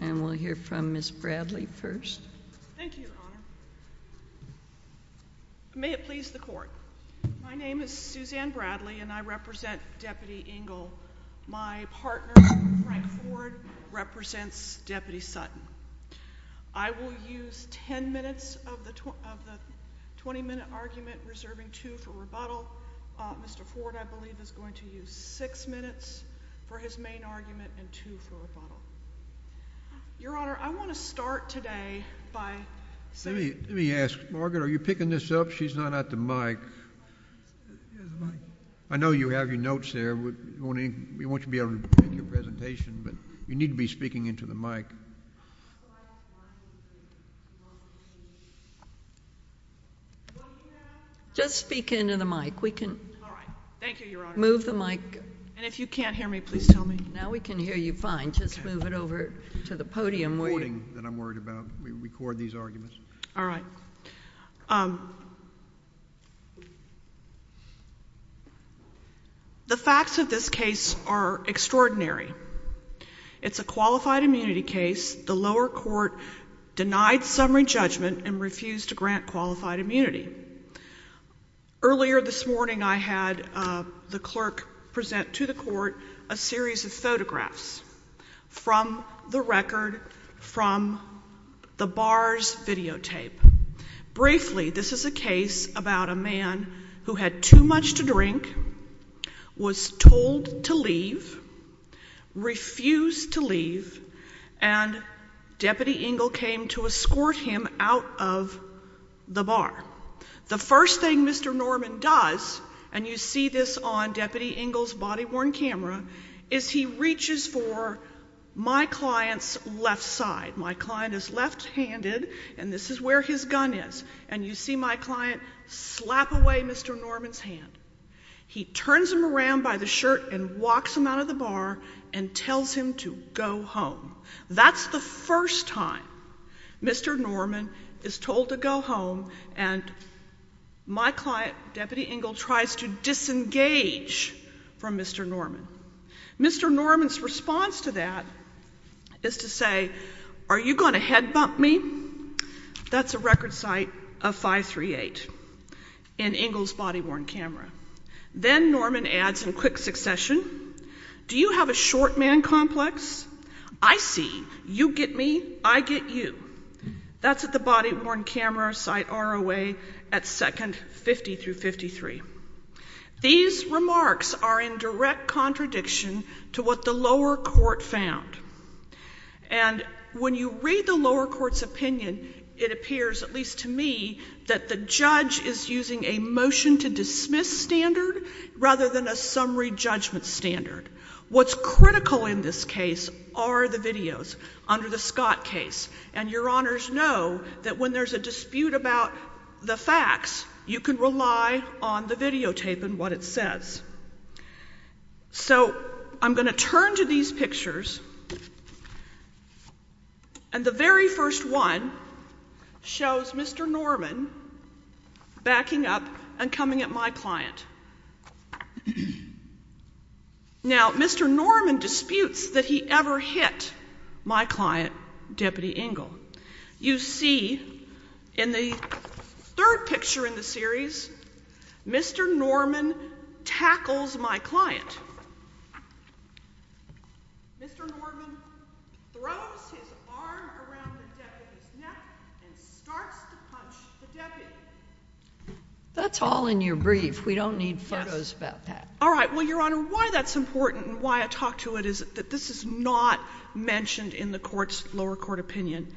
and we'll hear from Ms. Bradley first. Thank you, Your Honor. May it please the Court, my name is Suzanne Bradley and I represent Deputy Ingle. My partner, Frank Ford, represents Deputy Sutton. I will use 10 minutes of the 20-minute argument, reserving two for rebuttal. Mr. Ford, I believe, is going to use six minutes for his main argument and two for rebuttal. Your Honor, I want to start today by saying— Let me ask, Margaret, are you picking this up? She's not at the mic. I know you have your notes there. We want you to be able to make your presentation, but you need to be speaking into the mic. Just speak into the mic. We can— All right. Thank you, Your Honor. Move the mic. And if you can't hear me, please tell me. Now we can hear you fine. I'll just move it over to the podium where you— The recording that I'm worried about. We record these arguments. All right. The facts of this case are extraordinary. It's a qualified immunity case. The lower court denied summary judgment and refused to grant qualified immunity. Earlier this morning, I had the clerk present to the court a series of photographs from the record from the bar's videotape. Briefly, this is a case about a man who had too much to drink, was told to leave, refused to leave, and Deputy Engle came to escort him out of the bar. The first thing Mr. Norman does, and you see this on Deputy Engle's body-worn camera, is he reaches for my client's left side. My client is left-handed, and this is where his gun is. And you see my client slap away Mr. Norman's hand. He turns him around by the shirt and walks him out of the bar and tells him to go home. That's the first time Mr. Norman is told to go home, and my client, Deputy Engle, tries to disengage from Mr. Norman. Mr. Norman's response to that is to say, are you going to head-bump me? That's a record sight of 538 in Engle's body-worn camera. Then Norman adds in quick succession, do you have a short man complex? I see. You get me. I get you. That's at the body-worn camera sight ROA at second 50 through 53. These remarks are in direct contradiction to what the lower court found. And when you read the lower court's opinion, it appears, at least to me, that the judge is using a motion-to-dismiss standard rather than a summary judgment standard. What's critical in this case are the videos under the Scott case. And your honors know that when there's a dispute about the facts, you can rely on the videotape and what it says. So, I'm going to turn to these pictures, and the very first one shows Mr. Norman backing up and coming at my client. Now, Mr. Norman disputes that he ever hit my client, Deputy Engle. You see, in the third picture in the series, Mr. Norman tackles my client. Mr. Norman throws his arm around the deputy's neck and starts to punch the deputy. That's all in your brief. We don't need photos about that. All right. Well, your honor, why that's important and why I talk to it is that this is not mentioned in the court's lower court opinion.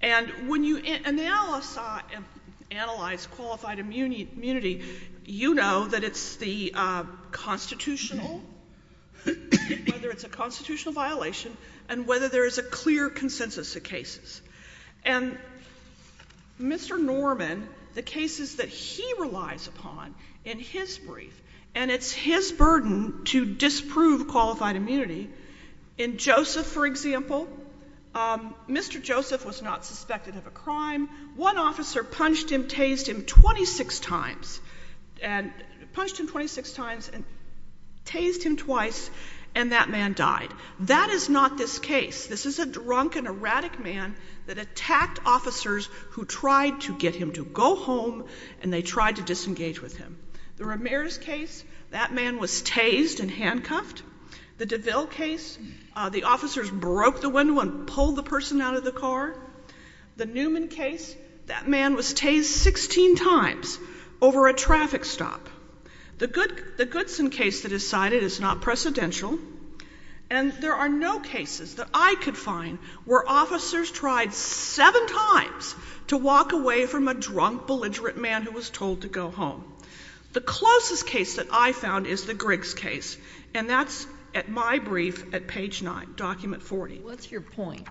And when you analyze qualified immunity, you know that it's the constitutional, whether it's a constitutional violation and whether there is a clear consensus of cases. And Mr. Norman, the cases that he relies upon in his brief, and it's his burden to disprove qualified immunity, in Joseph, for example, Mr. Joseph was not suspected of a crime. One officer punched him, tased him 26 times and tased him twice, and that man died. That is not this case. This is a drunk and erratic man that attacked officers who tried to get him to go home, and they tried to disengage with him. The Ramirez case, that man was tased and handcuffed. The DeVille case, the officers broke the window and pulled the person out of the car. The Newman case, that man was tased 16 times over a traffic stop. The Goodson case that is cited is not precedential. And there are no cases that I could find where officers tried seven times to walk away from a drunk, belligerent man who was told to go home. The closest case that I found is the Griggs case, and that's at my brief at page 9, document 40. What's your point?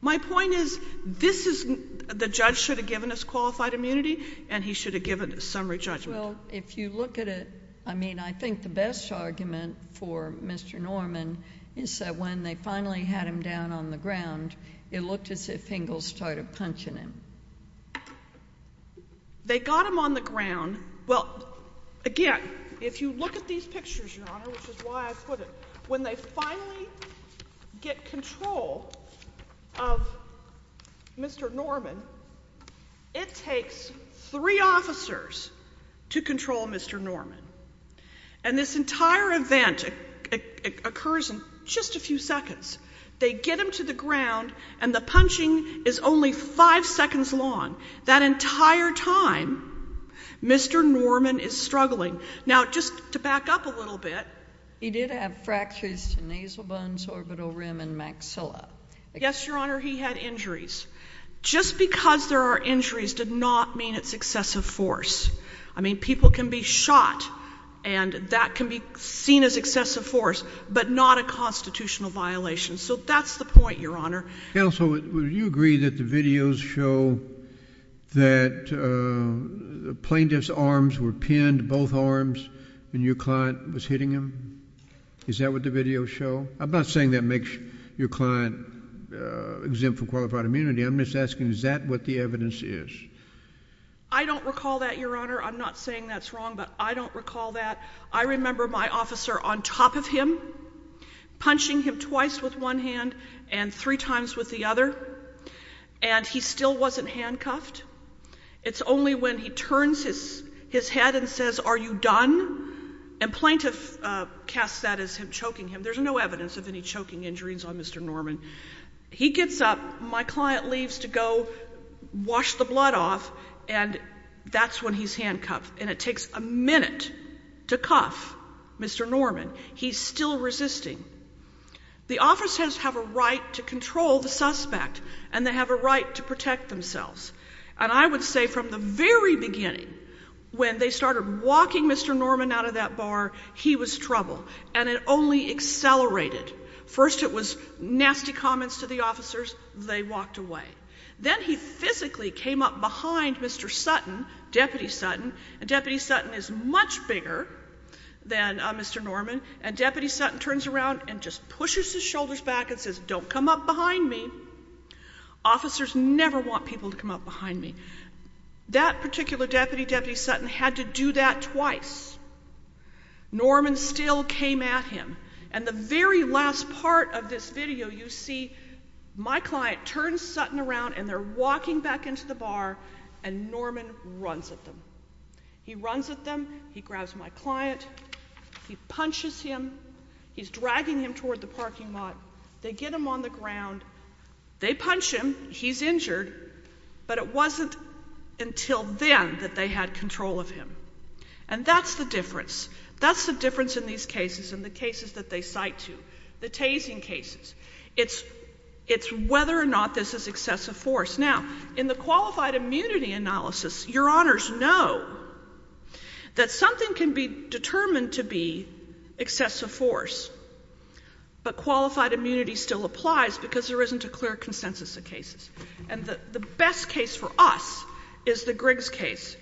My point is this is, the judge should have given us qualified immunity and he should have given a summary judgment. Well, if you look at it, I mean, I think the best argument for Mr. Norman is that when they finally had him down on the ground, it looked as if Ingalls started punching him. They got him on the ground, well, again, if you look at these pictures, Your Honor, which is why I put it, when they finally get control of Mr. Norman, it takes three officers to control Mr. Norman. And this entire event occurs in just a few seconds. They get him to the ground, and the punching is only five seconds long. That entire time, Mr. Norman is struggling. Now, just to back up a little bit. He did have fractures to nasal bones, orbital rim, and maxilla. Yes, Your Honor, he had injuries. Just because there are injuries did not mean it's excessive force. I mean, people can be shot, and that can be seen as excessive force, but not a constitutional violation. So that's the point, Your Honor. Counsel, would you agree that the videos show that the plaintiff's arms were pinned, both arms, when your client was hitting him? Is that what the videos show? I'm not saying that makes your client exempt from qualified immunity. I'm just asking, is that what the evidence is? I don't recall that, Your Honor. I'm not saying that's wrong, but I don't recall that. I remember my officer on top of him, punching him twice with one hand and three times with the other, and he still wasn't handcuffed. It's only when he turns his head and says, are you done? And plaintiff casts that as him choking him. There's no evidence of any choking injuries on Mr. Norman. He gets up, my client leaves to go wash the blood off, and that's when he's handcuffed. And it takes a minute to cuff Mr. Norman. He's still resisting. The officers have a right to control the suspect, and they have a right to protect themselves. And I would say from the very beginning, when they started walking Mr. Norman out of that bar, he was trouble. And it only accelerated. First it was nasty comments to the officers, they walked away. Then he physically came up behind Mr. Sutton, Deputy Sutton, and Deputy Sutton is much bigger than Mr. Norman, and Deputy Sutton turns around and just pushes his shoulders back and says, don't come up behind me. Officers never want people to come up behind me. That particular deputy, Deputy Sutton, had to do that twice. Norman still came at him. And the very last part of this video, you see my client turns Sutton around and they're walking back into the bar, and Norman runs at them. He runs at them, he grabs my client, he punches him, he's dragging him toward the parking lot. They get him on the ground. They punch him, he's injured, but it wasn't until then that they had control of him. And that's the difference. That's the difference in these cases and the cases that they cite to, the tasing cases. It's whether or not this is excessive force. Now in the qualified immunity analysis, your honors know that something can be determined to be excessive force, but qualified immunity still applies because there isn't a clear consensus of cases. And the best case for us is the Griggs case,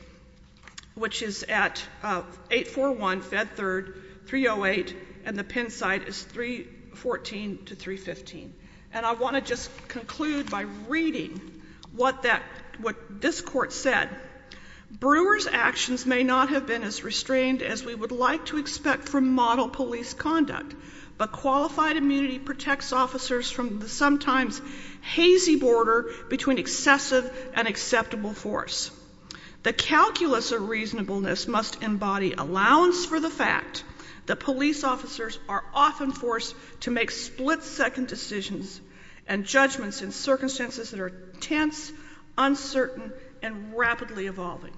which is at 841 Fed Third, 308, and the Penn site is 314 to 315. And I want to just conclude by reading what this court said, Brewer's actions may not have been as restrained as we would like to expect from model police conduct, but qualified immunity protects officers from the sometimes hazy border between excessive and acceptable force. The calculus of reasonableness must embody allowance for the fact that police officers are often forced to make split-second decisions and judgments in circumstances that are tense, uncertain, and rapidly evolving.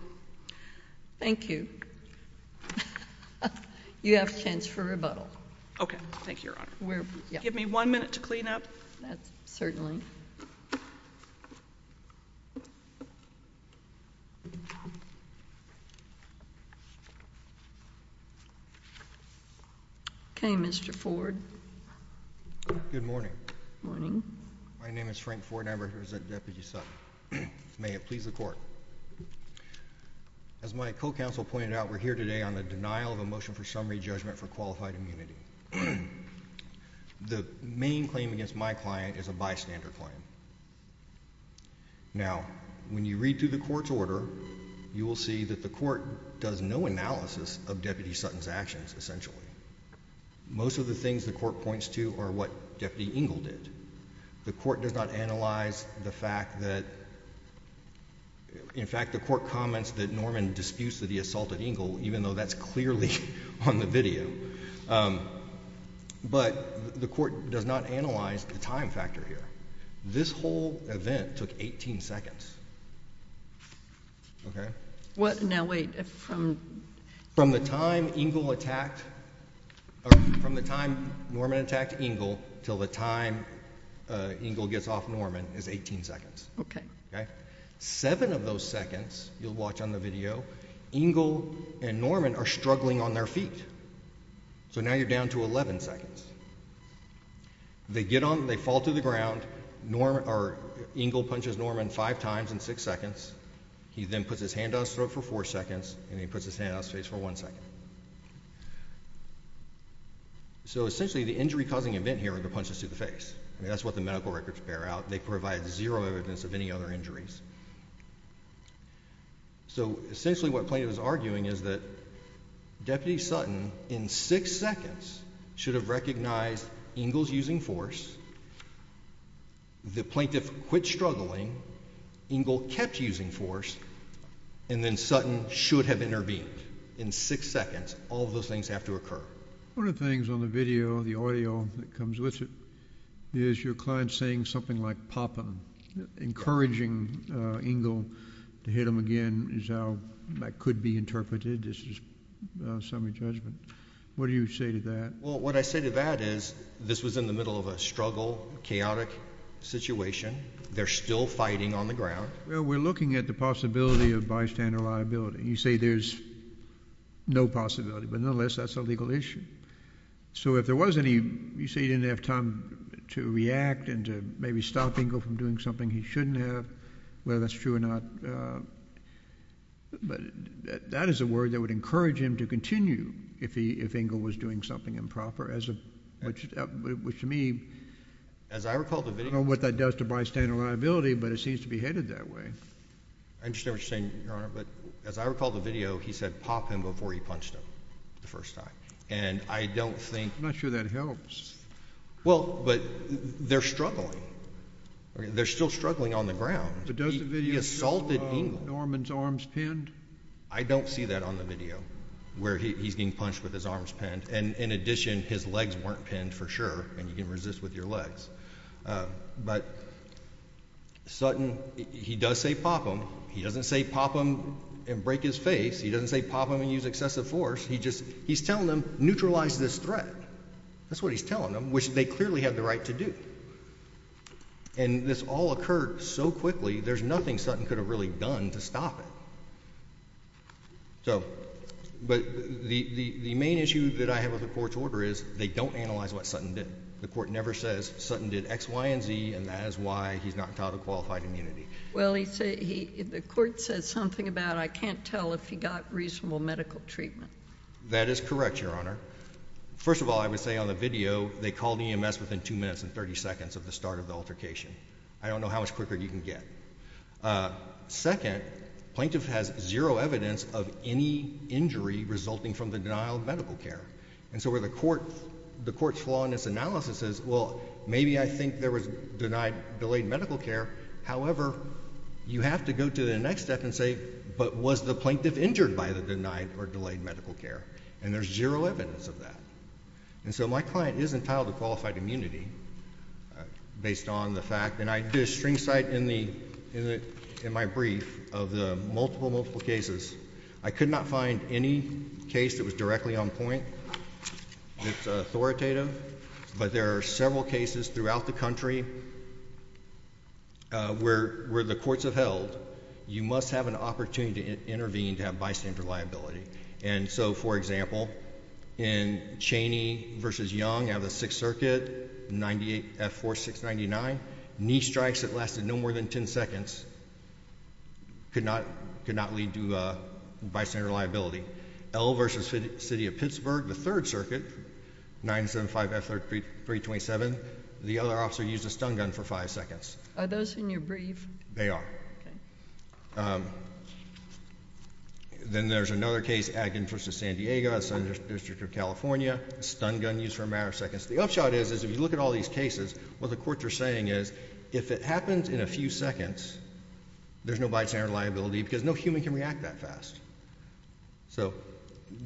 Thank you. You have a chance for rebuttal. Okay. Thank you, Your Honor. Give me one minute to clean up. Okay, Mr. Ford. Good morning. Morning. My name is Frank Ford. I'm representing Deputy Sutton. May it please the Court. As my co-counsel pointed out, we're here today on the denial of a motion for summary judgment for qualified immunity. The main claim against my client is a bystander claim. Now, when you read through the court's order, you will see that the court does no analysis of Deputy Sutton's actions, essentially. Most of the things the court points to are what Deputy Engle did. The court does not analyze the fact that—in fact, the court comments that Norman disputes that he assaulted Engle, even though that's clearly on the video. But the court does not analyze the time factor here. This whole event took 18 seconds. Okay? What? No, wait. From— From the time Engle attacked—from the time Norman attacked Engle until the time Engle gets off Norman is 18 seconds. Okay. Seven of those seconds, you'll watch on the video, Engle and Norman are struggling on their feet. So now you're down to 11 seconds. They get on—they fall to the ground, Norman—or, Engle punches Norman five times in six seconds. He then puts his hand on his throat for four seconds, and he puts his hand on his face for one second. So essentially, the injury-causing event here are the punches to the face. I mean, that's what the medical records bear out. They provide zero evidence of any other injuries. So essentially, what the plaintiff is arguing is that Deputy Sutton, in six seconds, should have recognized Engle's using force, the plaintiff quit struggling, Engle kept using force, and then Sutton should have intervened. In six seconds, all of those things have to occur. One of the things on the video, the audio that comes with it, is your client saying something like, Papa, encouraging Engle to hit him again, is how that could be interpreted. This is a summary judgment. What do you say to that? Well, what I say to that is, this was in the middle of a struggle, chaotic situation. They're still fighting on the ground. Well, we're looking at the possibility of bystander liability. You say there's no possibility, but nonetheless, that's a legal issue. So if there was any, you say he didn't have time to react and to maybe stop Engle from doing something he shouldn't have, whether that's true or not, that is a word that would encourage him to continue if Engle was doing something improper, which to me, I don't know what that does to bystander liability, but it seems to be headed that way. I understand what you're saying, Your Honor, but as I recall the video, he said, Pop him before he punched him the first time. And I don't think- I'm not sure that helps. Well, but they're struggling. They're still struggling on the ground. But doesn't the video show Norman's arms pinned? I don't see that on the video, where he's being punched with his arms pinned. And in addition, his legs weren't pinned for sure, and you can resist with your legs. But Sutton, he does say, Pop him. He doesn't say, Pop him and break his face. He doesn't say, Pop him and use excessive force. He's telling them, neutralize this threat. That's what he's telling them, which they clearly have the right to do. And this all occurred so quickly, there's nothing Sutton could have really done to stop it. But the main issue that I have with the court's order is, they don't analyze what Sutton did. The court never says, Sutton did X, Y, and Z, and that is why he's not entitled to qualified immunity. Well, the court says something about, I can't tell if he got reasonable medical treatment. That is correct, Your Honor. First of all, I would say on the video, they called EMS within 2 minutes and 30 seconds of the start of the altercation. I don't know how much quicker you can get. Second, plaintiff has zero evidence of any injury resulting from the denial of medical care. And so where the court's flaw in its analysis is, well, maybe I think there was delayed medical care, however, you have to go to the next step and say, but was the plaintiff injured by the denied or delayed medical care? And there's zero evidence of that. And so my client is entitled to qualified immunity based on the fact, and I did a string cite in my brief of the multiple, multiple cases. I could not find any case that was directly on point that's authoritative, but there are several cases throughout the country where the courts have held, you must have an opportunity to intervene to have bystander liability. And so, for example, in Cheney v. Young out of the Sixth Circuit, 98F4699, knee strikes that lasted no more than 10 seconds could not lead to bystander liability. L v. City of Pittsburgh, the Third Circuit, 975F3327, the other officer used a stun gun for five seconds. Are those in your brief? They are. Then there's another case, Adkin v. San Diego, Southern District of California, a stun gun used for a matter of seconds. The upshot is, is if you look at all these cases, what the courts are saying is, if it happens in a few seconds, there's no bystander liability because no human can react that fast. So,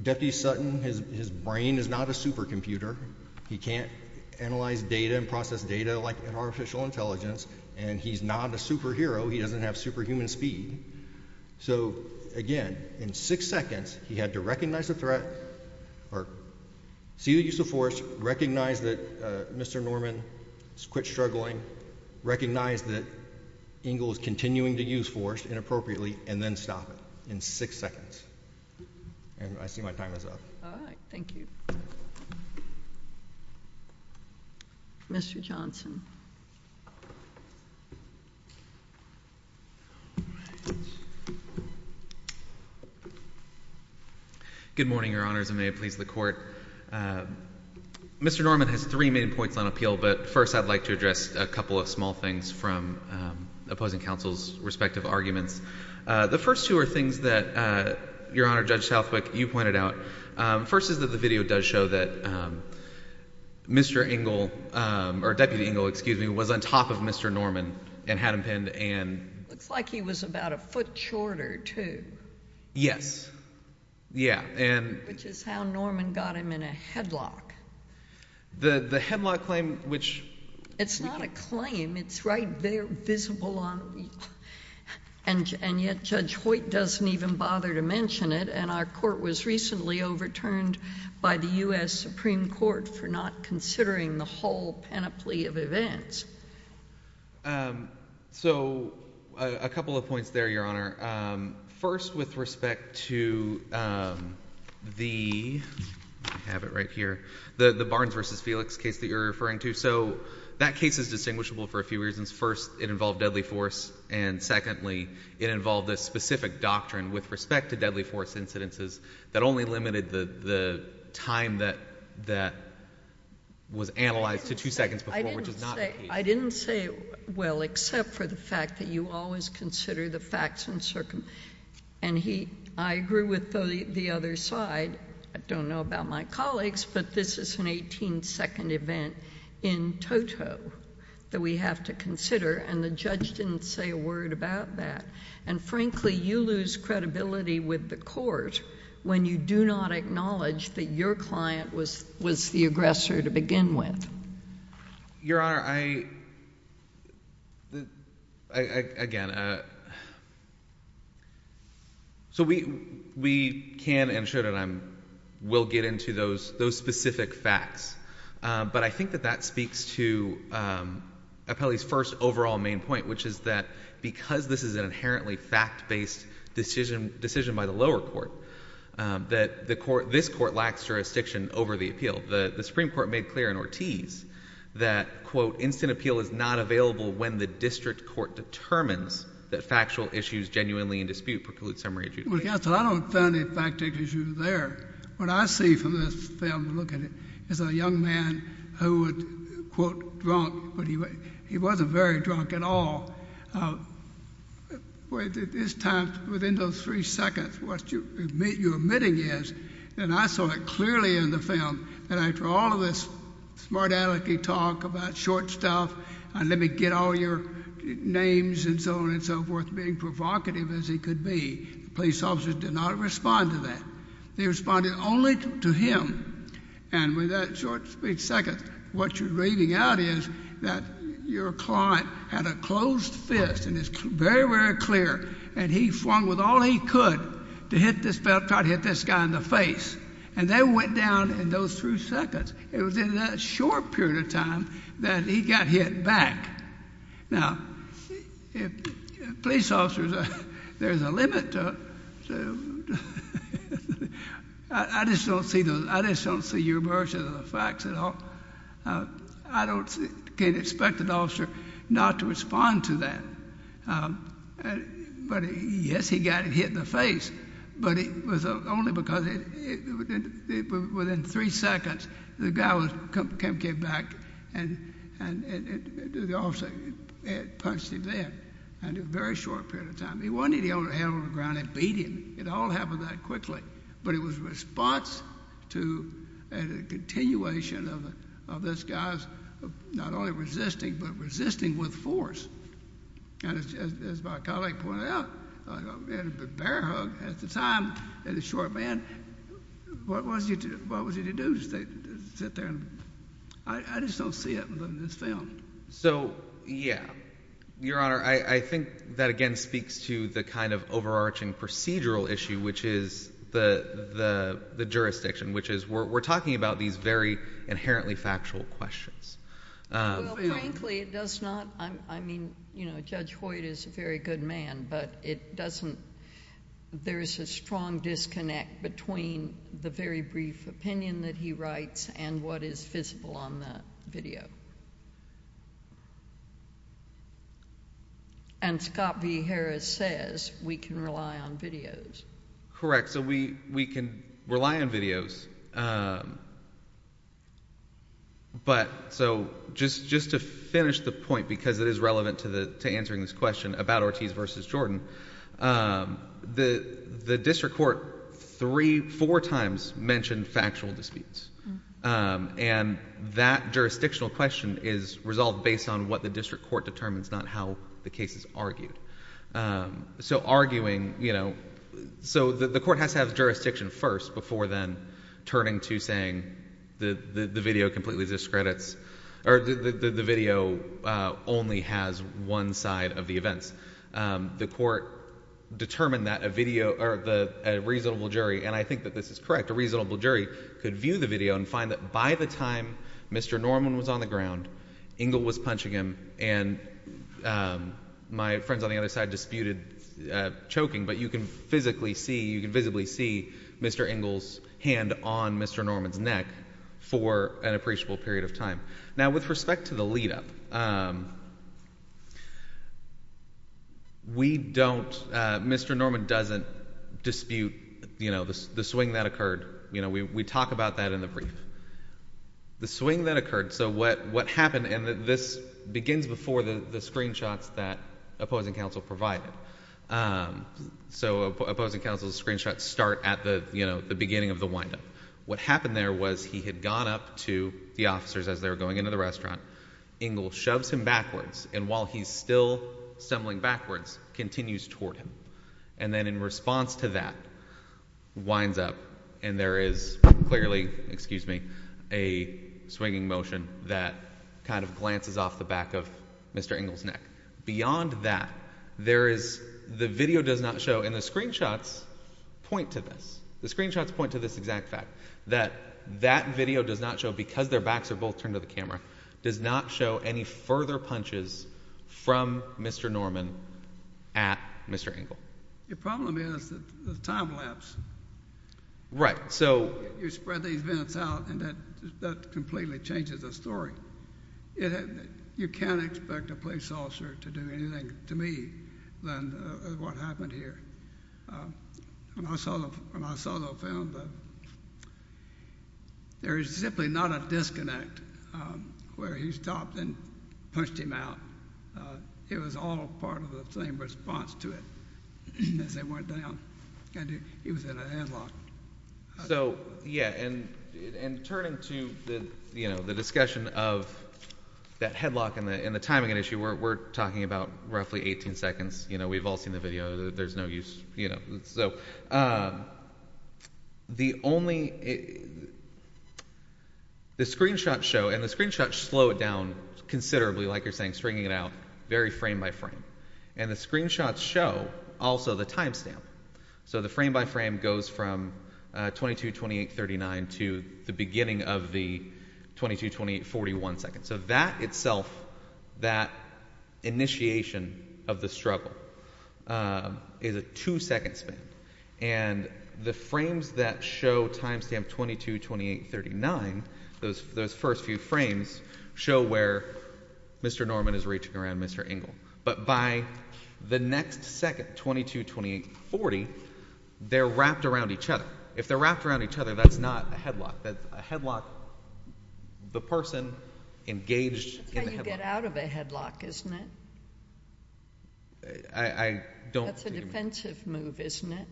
Deputy Sutton, his brain is not a supercomputer. He can't analyze data and process data like an artificial intelligence, and he's not a superhero. He doesn't have superhuman speed. So again, in six seconds, he had to recognize the threat or see the use of force, recognize that Mr. Norman quit struggling, recognize that Engle is continuing to use force inappropriately, and then stop it. In six seconds. I see my time is up. All right. Thank you. Mr. Johnson. All right. Good morning, Your Honors, and may it please the Court. Mr. Norman has three main points on appeal, but first I'd like to address a couple of small things from opposing counsel's respective arguments. The first two are things that, Your Honor, Judge Southwick, you pointed out. First is that the video does show that Mr. Engle, or Deputy Engle, excuse me, was on top of Mr. Norman and had him pinned and... Looks like he was about a foot shorter, too. Yes. Yeah, and... Which is how Norman got him in a headlock. The headlock claim, which... It's not a claim. It's right there, visible on... And yet Judge Hoyt doesn't even bother to mention it, and our Court was recently overturned by the U.S. Supreme Court for not considering the whole panoply of events. So a couple of points there, Your Honor. First with respect to the, I have it right here, the Barnes v. Felix case that you're referring to. So that case is distinguishable for a few reasons. First, it involved deadly force, and secondly, it involved a specific doctrine with respect to deadly force incidences that only limited the time that was analyzed to two seconds before, which is not... I didn't say... I didn't say it well, except for the fact that you always consider the facts uncircum... And I agree with the other side, I don't know about my colleagues, but this is an 18-second event in toto that we have to consider, and the judge didn't say a word about that. And frankly, you lose credibility with the Court when you do not acknowledge that your client was the aggressor to begin with. Your Honor, I... Again, so we can and should, and I will get into those specific facts, but I think that that speaks to Appelli's first overall main point, which is that because this is an inherently fact-based decision by the lower court, that this Court lacks jurisdiction over the appeal. The Supreme Court made clear in Ortiz that, quote, instant appeal is not available when the district court determines that factual issues genuinely in dispute preclude summary adjudication. Well, counsel, I don't find any fact-based issues there. What I see from this film, look at it, is a young man who was, quote, drunk, but he wasn't very drunk at all. This time, within those three seconds, what you're admitting is, and I saw it clearly in the film, that after all of this smart-alecky talk about short stuff, and let me get all your names and so on and so forth, being provocative as he could be, police officers did not respond to that. They responded only to him. And with that short speech second, what you're reading out is that your client had a closed fist, and it's very, very clear, and he flung with all he could to try to hit this guy in the face. And they went down in those three seconds. It was in that short period of time that he got hit back. Now, if police officers, there's a limit to, I just don't see those, I just don't see your version of the facts at all. I don't, can't expect an officer not to respond to that, but yes, he got hit in the face, but it was only because it, within three seconds, the guy came back, and the officer had punched him there, and in a very short period of time. He wasn't able to hit him on the ground and beat him. It all happened that quickly. But it was a response to a continuation of this guy's not only resisting, but resisting with force. And as my colleague pointed out, I mean, a bear hug at the time, and a short man, what was he to do? Just sit there and, I just don't see it in this film. So yeah, Your Honor, I think that again speaks to the kind of overarching procedural issue, which is the jurisdiction, which is we're talking about these very inherently factual questions. Well, frankly, it does not, I mean, you know, Judge Hoyt is a very good man, but it doesn't, there's a strong disconnect between the very brief opinion that he writes and what is visible on the video. And Scott V. Harris says we can rely on videos. Correct. So we can rely on videos. But so just to finish the point, because it is relevant to answering this question about Ortiz versus Jordan, the district court three, four times mentioned factual disputes. And that jurisdictional question is resolved based on what the district court determines, not how the case is argued. So arguing, you know, so the court has to have jurisdiction first before then turning to saying the video completely discredits, or the video only has one side of the events. The court determined that a video, or a reasonable jury, and I think that this is correct, a reasonable jury, could view the video and find that by the time Mr. Norman was on the other side disputed choking, but you can physically see, you can visibly see Mr. Ingle's hand on Mr. Norman's neck for an appreciable period of time. Now with respect to the lead up, we don't, Mr. Norman doesn't dispute, you know, the swing that occurred. You know, we talk about that in the brief. The swing that occurred, so what happened, and this begins before the screenshots that opposing counsel provided, so opposing counsel's screenshots start at the, you know, the beginning of the wind up. What happened there was he had gone up to the officers as they were going into the restaurant, Ingle shoves him backwards, and while he's still stumbling backwards, continues toward him. And then in response to that, winds up, and there is clearly, excuse me, a swinging motion that kind of glances off the back of Mr. Ingle's neck. Beyond that, there is, the video does not show, and the screenshots point to this, the screenshots point to this exact fact, that that video does not show, because their backs are both turned to the camera, does not show any further punches from Mr. Norman at Mr. Ingle. Your problem is the time lapse. Right. So. You spread these vents out, and that completely changes the story. You can't expect a police officer to do anything to me than what happened here. When I saw the film, there is simply not a disconnect where he stopped and pushed him out. It was all part of the same response to it, as they went down, and he was in a headlock. So, yeah, and turning to the discussion of that headlock and the timing issue, we're talking about roughly 18 seconds, you know, we've all seen the video, there's no use, you know, so, the only, the screenshots show, and the screenshots slow it down considerably, like you're saying, stringing it out, very frame by frame, and the screenshots show also the time stamp. So the frame by frame goes from 22, 28, 39 to the beginning of the 22, 28, 41 seconds. So that itself, that initiation of the struggle is a two second span, and the frames that show time stamp 22, 28, 39, those first few frames show where Mr. Norman is reaching around Mr. Ingle. But by the next second, 22, 28, 40, they're wrapped around each other. If they're wrapped around each other, that's not a headlock, that's a headlock, the person engaged in the headlock. That's how you get out of a headlock, isn't it? I don't... That's a defensive move, isn't it?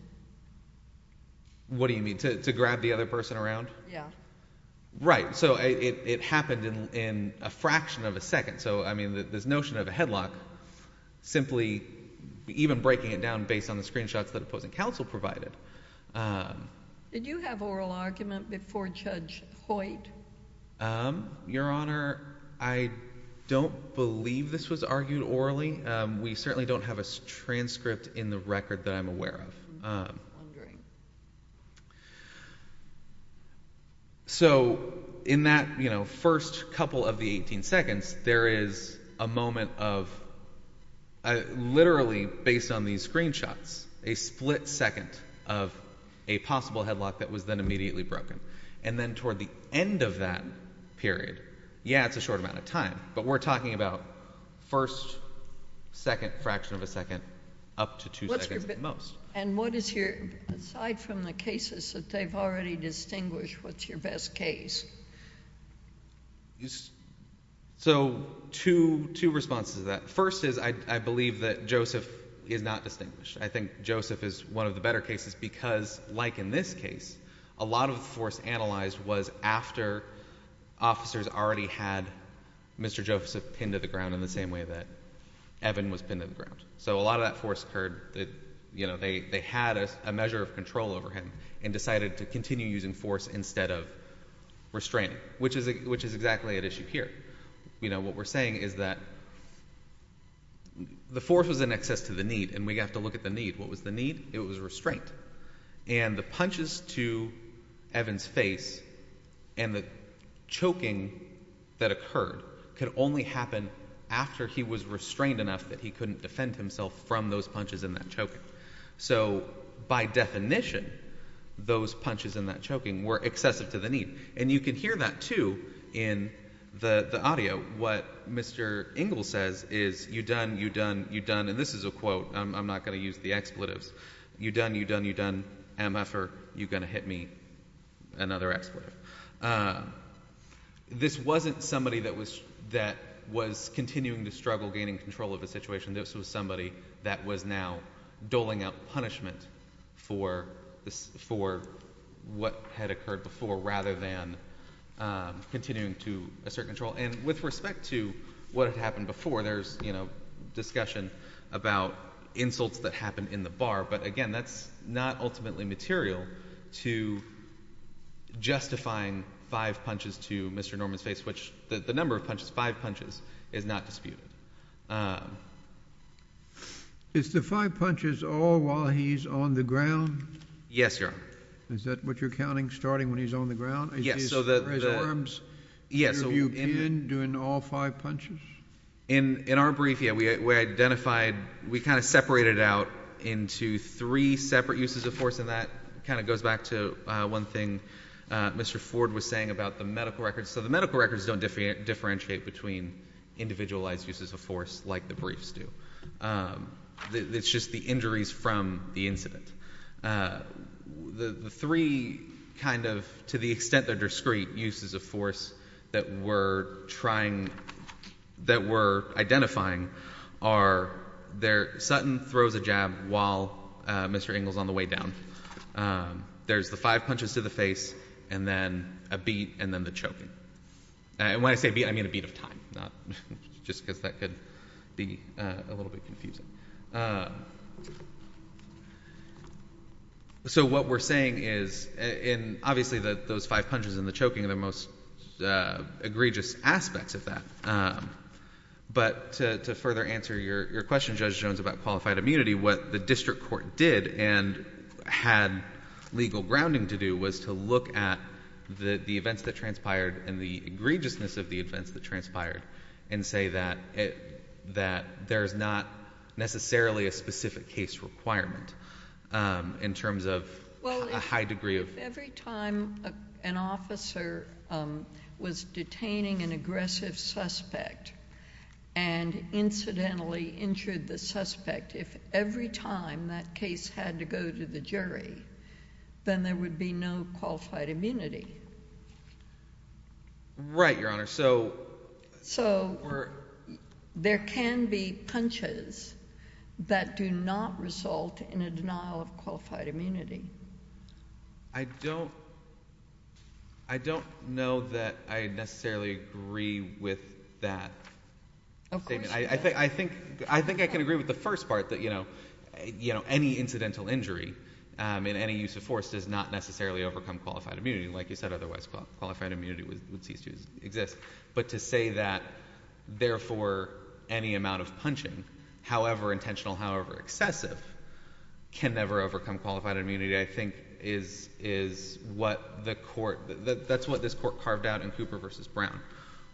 What do you mean, to grab the other person around? Yeah. Right. So it happened in a fraction of a second. So I mean, this notion of a headlock, simply even breaking it down based on the screenshots that opposing counsel provided. Did you have oral argument before Judge Hoyt? Your Honor, I don't believe this was argued orally. We certainly don't have a transcript in the record that I'm aware of. I'm wondering. So in that first couple of the 18 seconds, there is a moment of, literally based on these screenshots, a split second of a possible headlock that was then immediately broken. And then toward the end of that period, yeah, it's a short amount of time, but we're talking about first second, fraction of a second, up to two seconds at most. And what is your, aside from the cases that they've already distinguished, what's your best case? So two responses to that. First is, I believe that Joseph is not distinguished. I think Joseph is one of the better cases because, like in this case, a lot of the force analyzed was after officers already had Mr. Joseph pinned to the ground in the same way that Evan was pinned to the ground. So a lot of that force occurred that, you know, they had a measure of control over him and decided to continue using force instead of restraining, which is exactly at issue here. You know, what we're saying is that the force was in excess to the need and we have to look at the need. What was the need? It was restraint. And the punches to Evan's face and the choking that occurred could only happen after he was restrained enough that he couldn't defend himself from those punches and that choking. So by definition, those punches and that choking were excessive to the need. And you can hear that too in the audio. What Mr. Ingle says is, you done, you done, you done, and this is a quote. I'm not going to use the expletives. You done, you done, you done, MF-er, you going to hit me, another expletive. This wasn't somebody that was continuing to struggle, gaining control of the situation. This was somebody that was now doling out punishment for what had occurred before rather than continuing to assert control. And with respect to what had happened before, there's, you know, discussion about insults that happened in the bar, but again, that's not ultimately material to justifying five punches to Mr. Norman's face, which the number of punches, five punches, is not disputed. Is the five punches all while he's on the ground? Yes, Your Honor. Is that what you're counting, starting when he's on the ground? Yes. So his arms interview pin during all five punches? In our brief, yeah, we identified, we kind of separated out into three separate uses of force, and that kind of goes back to one thing Mr. Ford was saying about the medical records. So the medical records don't differentiate between individualized uses of force like the briefs do. It's just the injuries from the incident. The three kind of, to the extent they're discreet, uses of force that we're trying, that we're identifying are, Sutton throws a jab while Mr. Engel's on the way down. There's the five punches to the face, and then a beat, and then the choking. And when I say beat, I mean a beat of time, not, just because that could be a little bit So what we're saying is, obviously those five punches and the choking are the most egregious aspects of that. But to further answer your question, Judge Jones, about qualified immunity, what the district court did, and had legal grounding to do, was to look at the events that transpired and the egregiousness of the events that transpired, and say that there's not necessarily a specific case requirement in terms of a high degree of Well, if every time an officer was detaining an aggressive suspect and incidentally injured the suspect, if every time that case had to go to the jury, then there would be no qualified immunity. Right, Your Honor. So there can be punches that do not result in a denial of qualified immunity. I don't know that I necessarily agree with that statement. I think I can agree with the first part, that any incidental injury in any use of force does not necessarily overcome qualified immunity. Like you said, otherwise qualified immunity would cease to exist. But to say that, therefore, any amount of punching, however intentional, however excessive, can never overcome qualified immunity, I think is what the court, that's what this court carved out in Cooper v. Brown,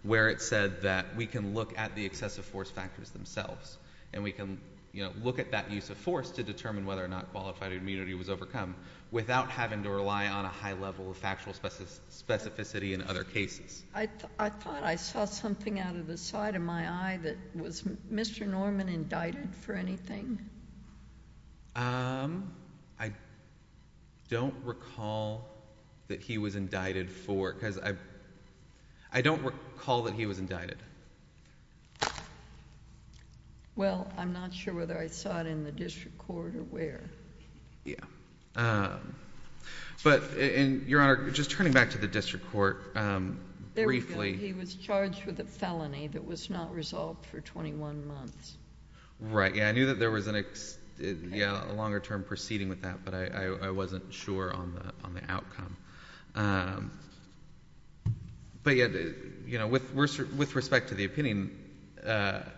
where it said that we can look at the excessive force factors themselves, and we can look at that use of force to determine whether or not qualified I thought I saw something out of the side of my eye that was Mr. Norman indicted for anything? I don't recall that he was indicted for... because I don't recall that he was indicted. Well, I'm not sure whether I saw it in the district court or where. Yeah. But, Your Honor, just turning back to the district court briefly... He was charged with a felony that was not resolved for twenty-one months. Right. Yeah. I knew that there was a longer term proceeding with that, but I wasn't sure on the outcome. But yet, you know, with respect to the opinion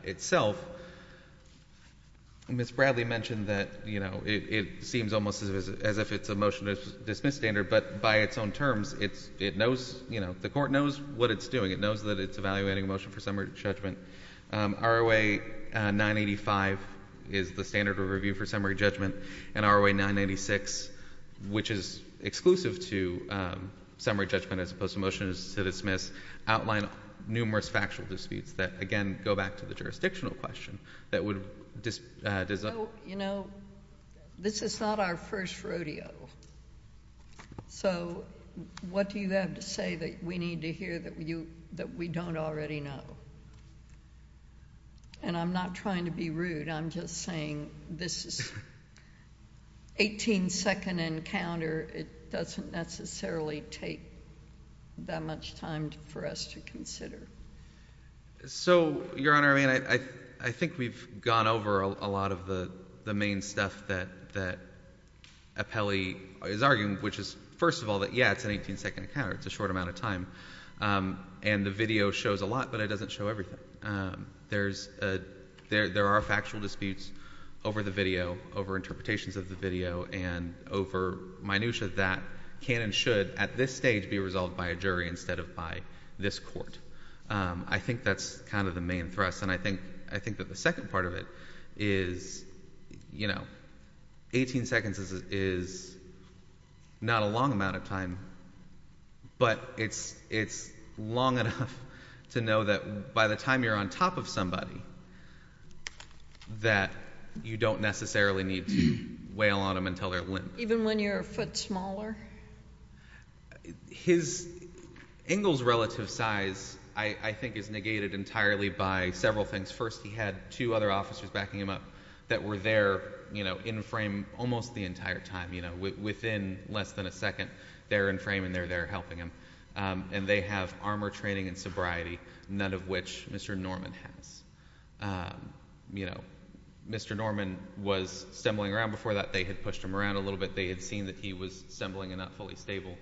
itself, Ms. Bradley mentioned that, you know, it seems almost as if it's a motion to dismiss standard, but by its own terms, it's... it knows, you know, the court knows what it's doing. It knows that it's evaluating a motion for summary judgment. ROA 985 is the standard of review for summary judgment, and ROA 996, which is exclusive to summary judgment as opposed to motion to dismiss, outline numerous factual disputes that, again, go back to the jurisdictional question that would... This is not our first rodeo, so what do you have to say that we need to hear that we don't already know? And I'm not trying to be rude, I'm just saying this is an eighteen-second encounter. It doesn't necessarily take that much time for us to consider. So, Your Honor, I mean, I think we've gone over a lot of the main stuff that Apelli is arguing, which is, first of all, that, yeah, it's an eighteen-second encounter. It's a short amount of time. And the video shows a lot, but it doesn't show everything. There are factual disputes over the video, over interpretations of the video, and over minutia that can and should, at this stage, be resolved by a jury instead of by this court. I think that's kind of the main thrust, and I think that the second part of it is, you know, eighteen seconds is not a long amount of time, but it's long enough to know that by the time you're on top of somebody that you don't necessarily need to wail on them until they're limp. Even when you're a foot smaller? His angle's relative size, I think, is negated entirely by several things. First, he had two other officers backing him up that were there, you know, in frame almost the entire time. You know, within less than a second, they're in frame and they're there helping him. And they have armor training and sobriety, none of which Mr. Norman has. You know, Mr. Norman was stumbling around before that. They had pushed him around a little bit. They had seen that he was stumbling and not fully stable,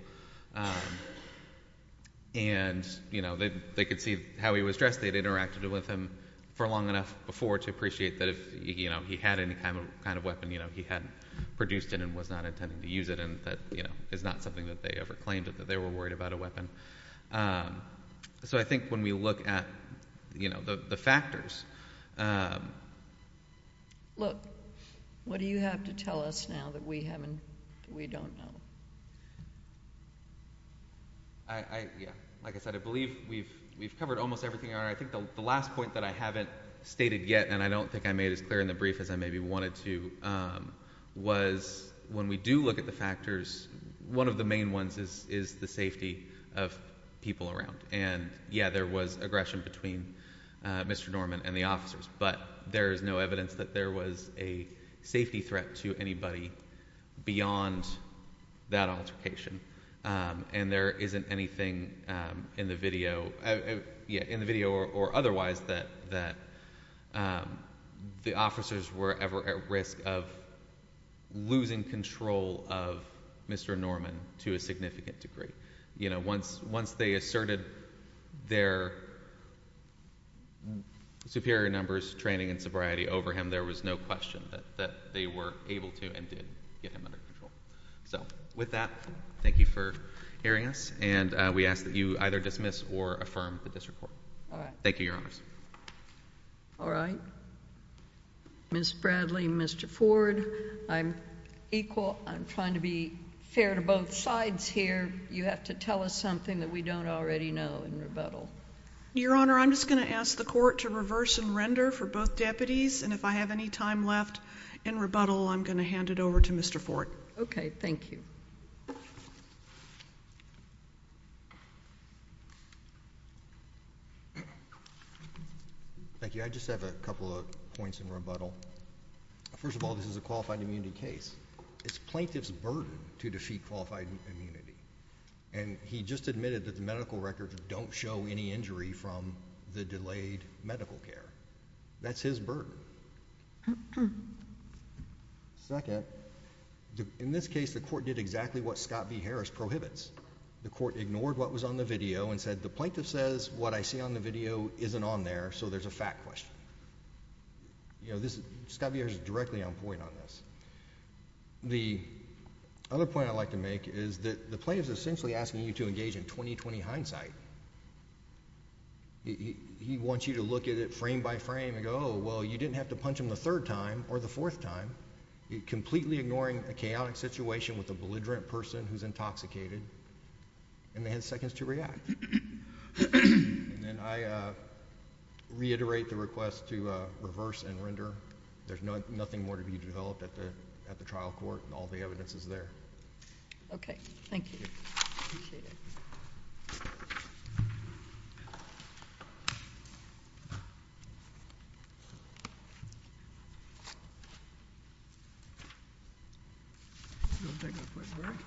and, you know, they could see how he was dressed. They'd interacted with him for long enough before to appreciate that if, you know, he had any kind of weapon, you know, he hadn't produced it and was not intending to use it, and that, you know, is not something that they ever claimed, that they were worried about a weapon. So I think when we look at, you know, the factors... Look, what do you have to tell us now that we haven't, that we don't know? I, yeah, like I said, I believe we've covered almost everything. I think the last point that I haven't stated yet, and I don't think I made it as clear in the brief as I maybe wanted to, was when we do look at the factors, one of the main ones is the safety of people around. And yeah, there was aggression between Mr. Norman and the officers. But there is no evidence that there was a safety threat to anybody beyond that altercation. And there isn't anything in the video, yeah, in the video or otherwise that the officers were ever at risk of losing control of Mr. Norman to a significant degree. You know, once they asserted their superior numbers, training, and sobriety over him, there was no question that they were able to and did get him under control. So with that, thank you for hearing us, and we ask that you either dismiss or affirm the disreport. All right. Thank you, Your Honors. All right. Ms. Bradley, Mr. Ford, I'm equal, I'm trying to be fair to both sides here. You have to tell us something that we don't already know in rebuttal. Your Honor, I'm just going to ask the Court to reverse and render for both deputies, and if I have any time left in rebuttal, I'm going to hand it over to Mr. Ford. Okay. Thank you. Thank you. I just have a couple of points in rebuttal. First of all, this is a qualified immunity case. It's plaintiff's burden to defeat qualified immunity. And he just admitted that the medical records don't show any injury from the delayed medical care. That's his burden. Second, in this case, the Court did exactly what Scott B. Harris prohibits. The Court ignored what was on the video and said, the plaintiff says what I see on the video isn't on there, so there's a fact question. You know, this is – Scott B. Harris is directly on point on this. The other point I'd like to make is that the plaintiff is essentially asking you to engage in 20-20 hindsight. He wants you to look at it frame by frame and go, oh, well, you didn't have to punch him the third time or the fourth time, completely ignoring a chaotic situation with a belligerent person who's intoxicated, and they had seconds to react. And I reiterate the request to reverse and render. There's nothing more to be developed at the trial court. All the evidence is there. Okay. Thank you. Appreciate it. We'll take a quick break.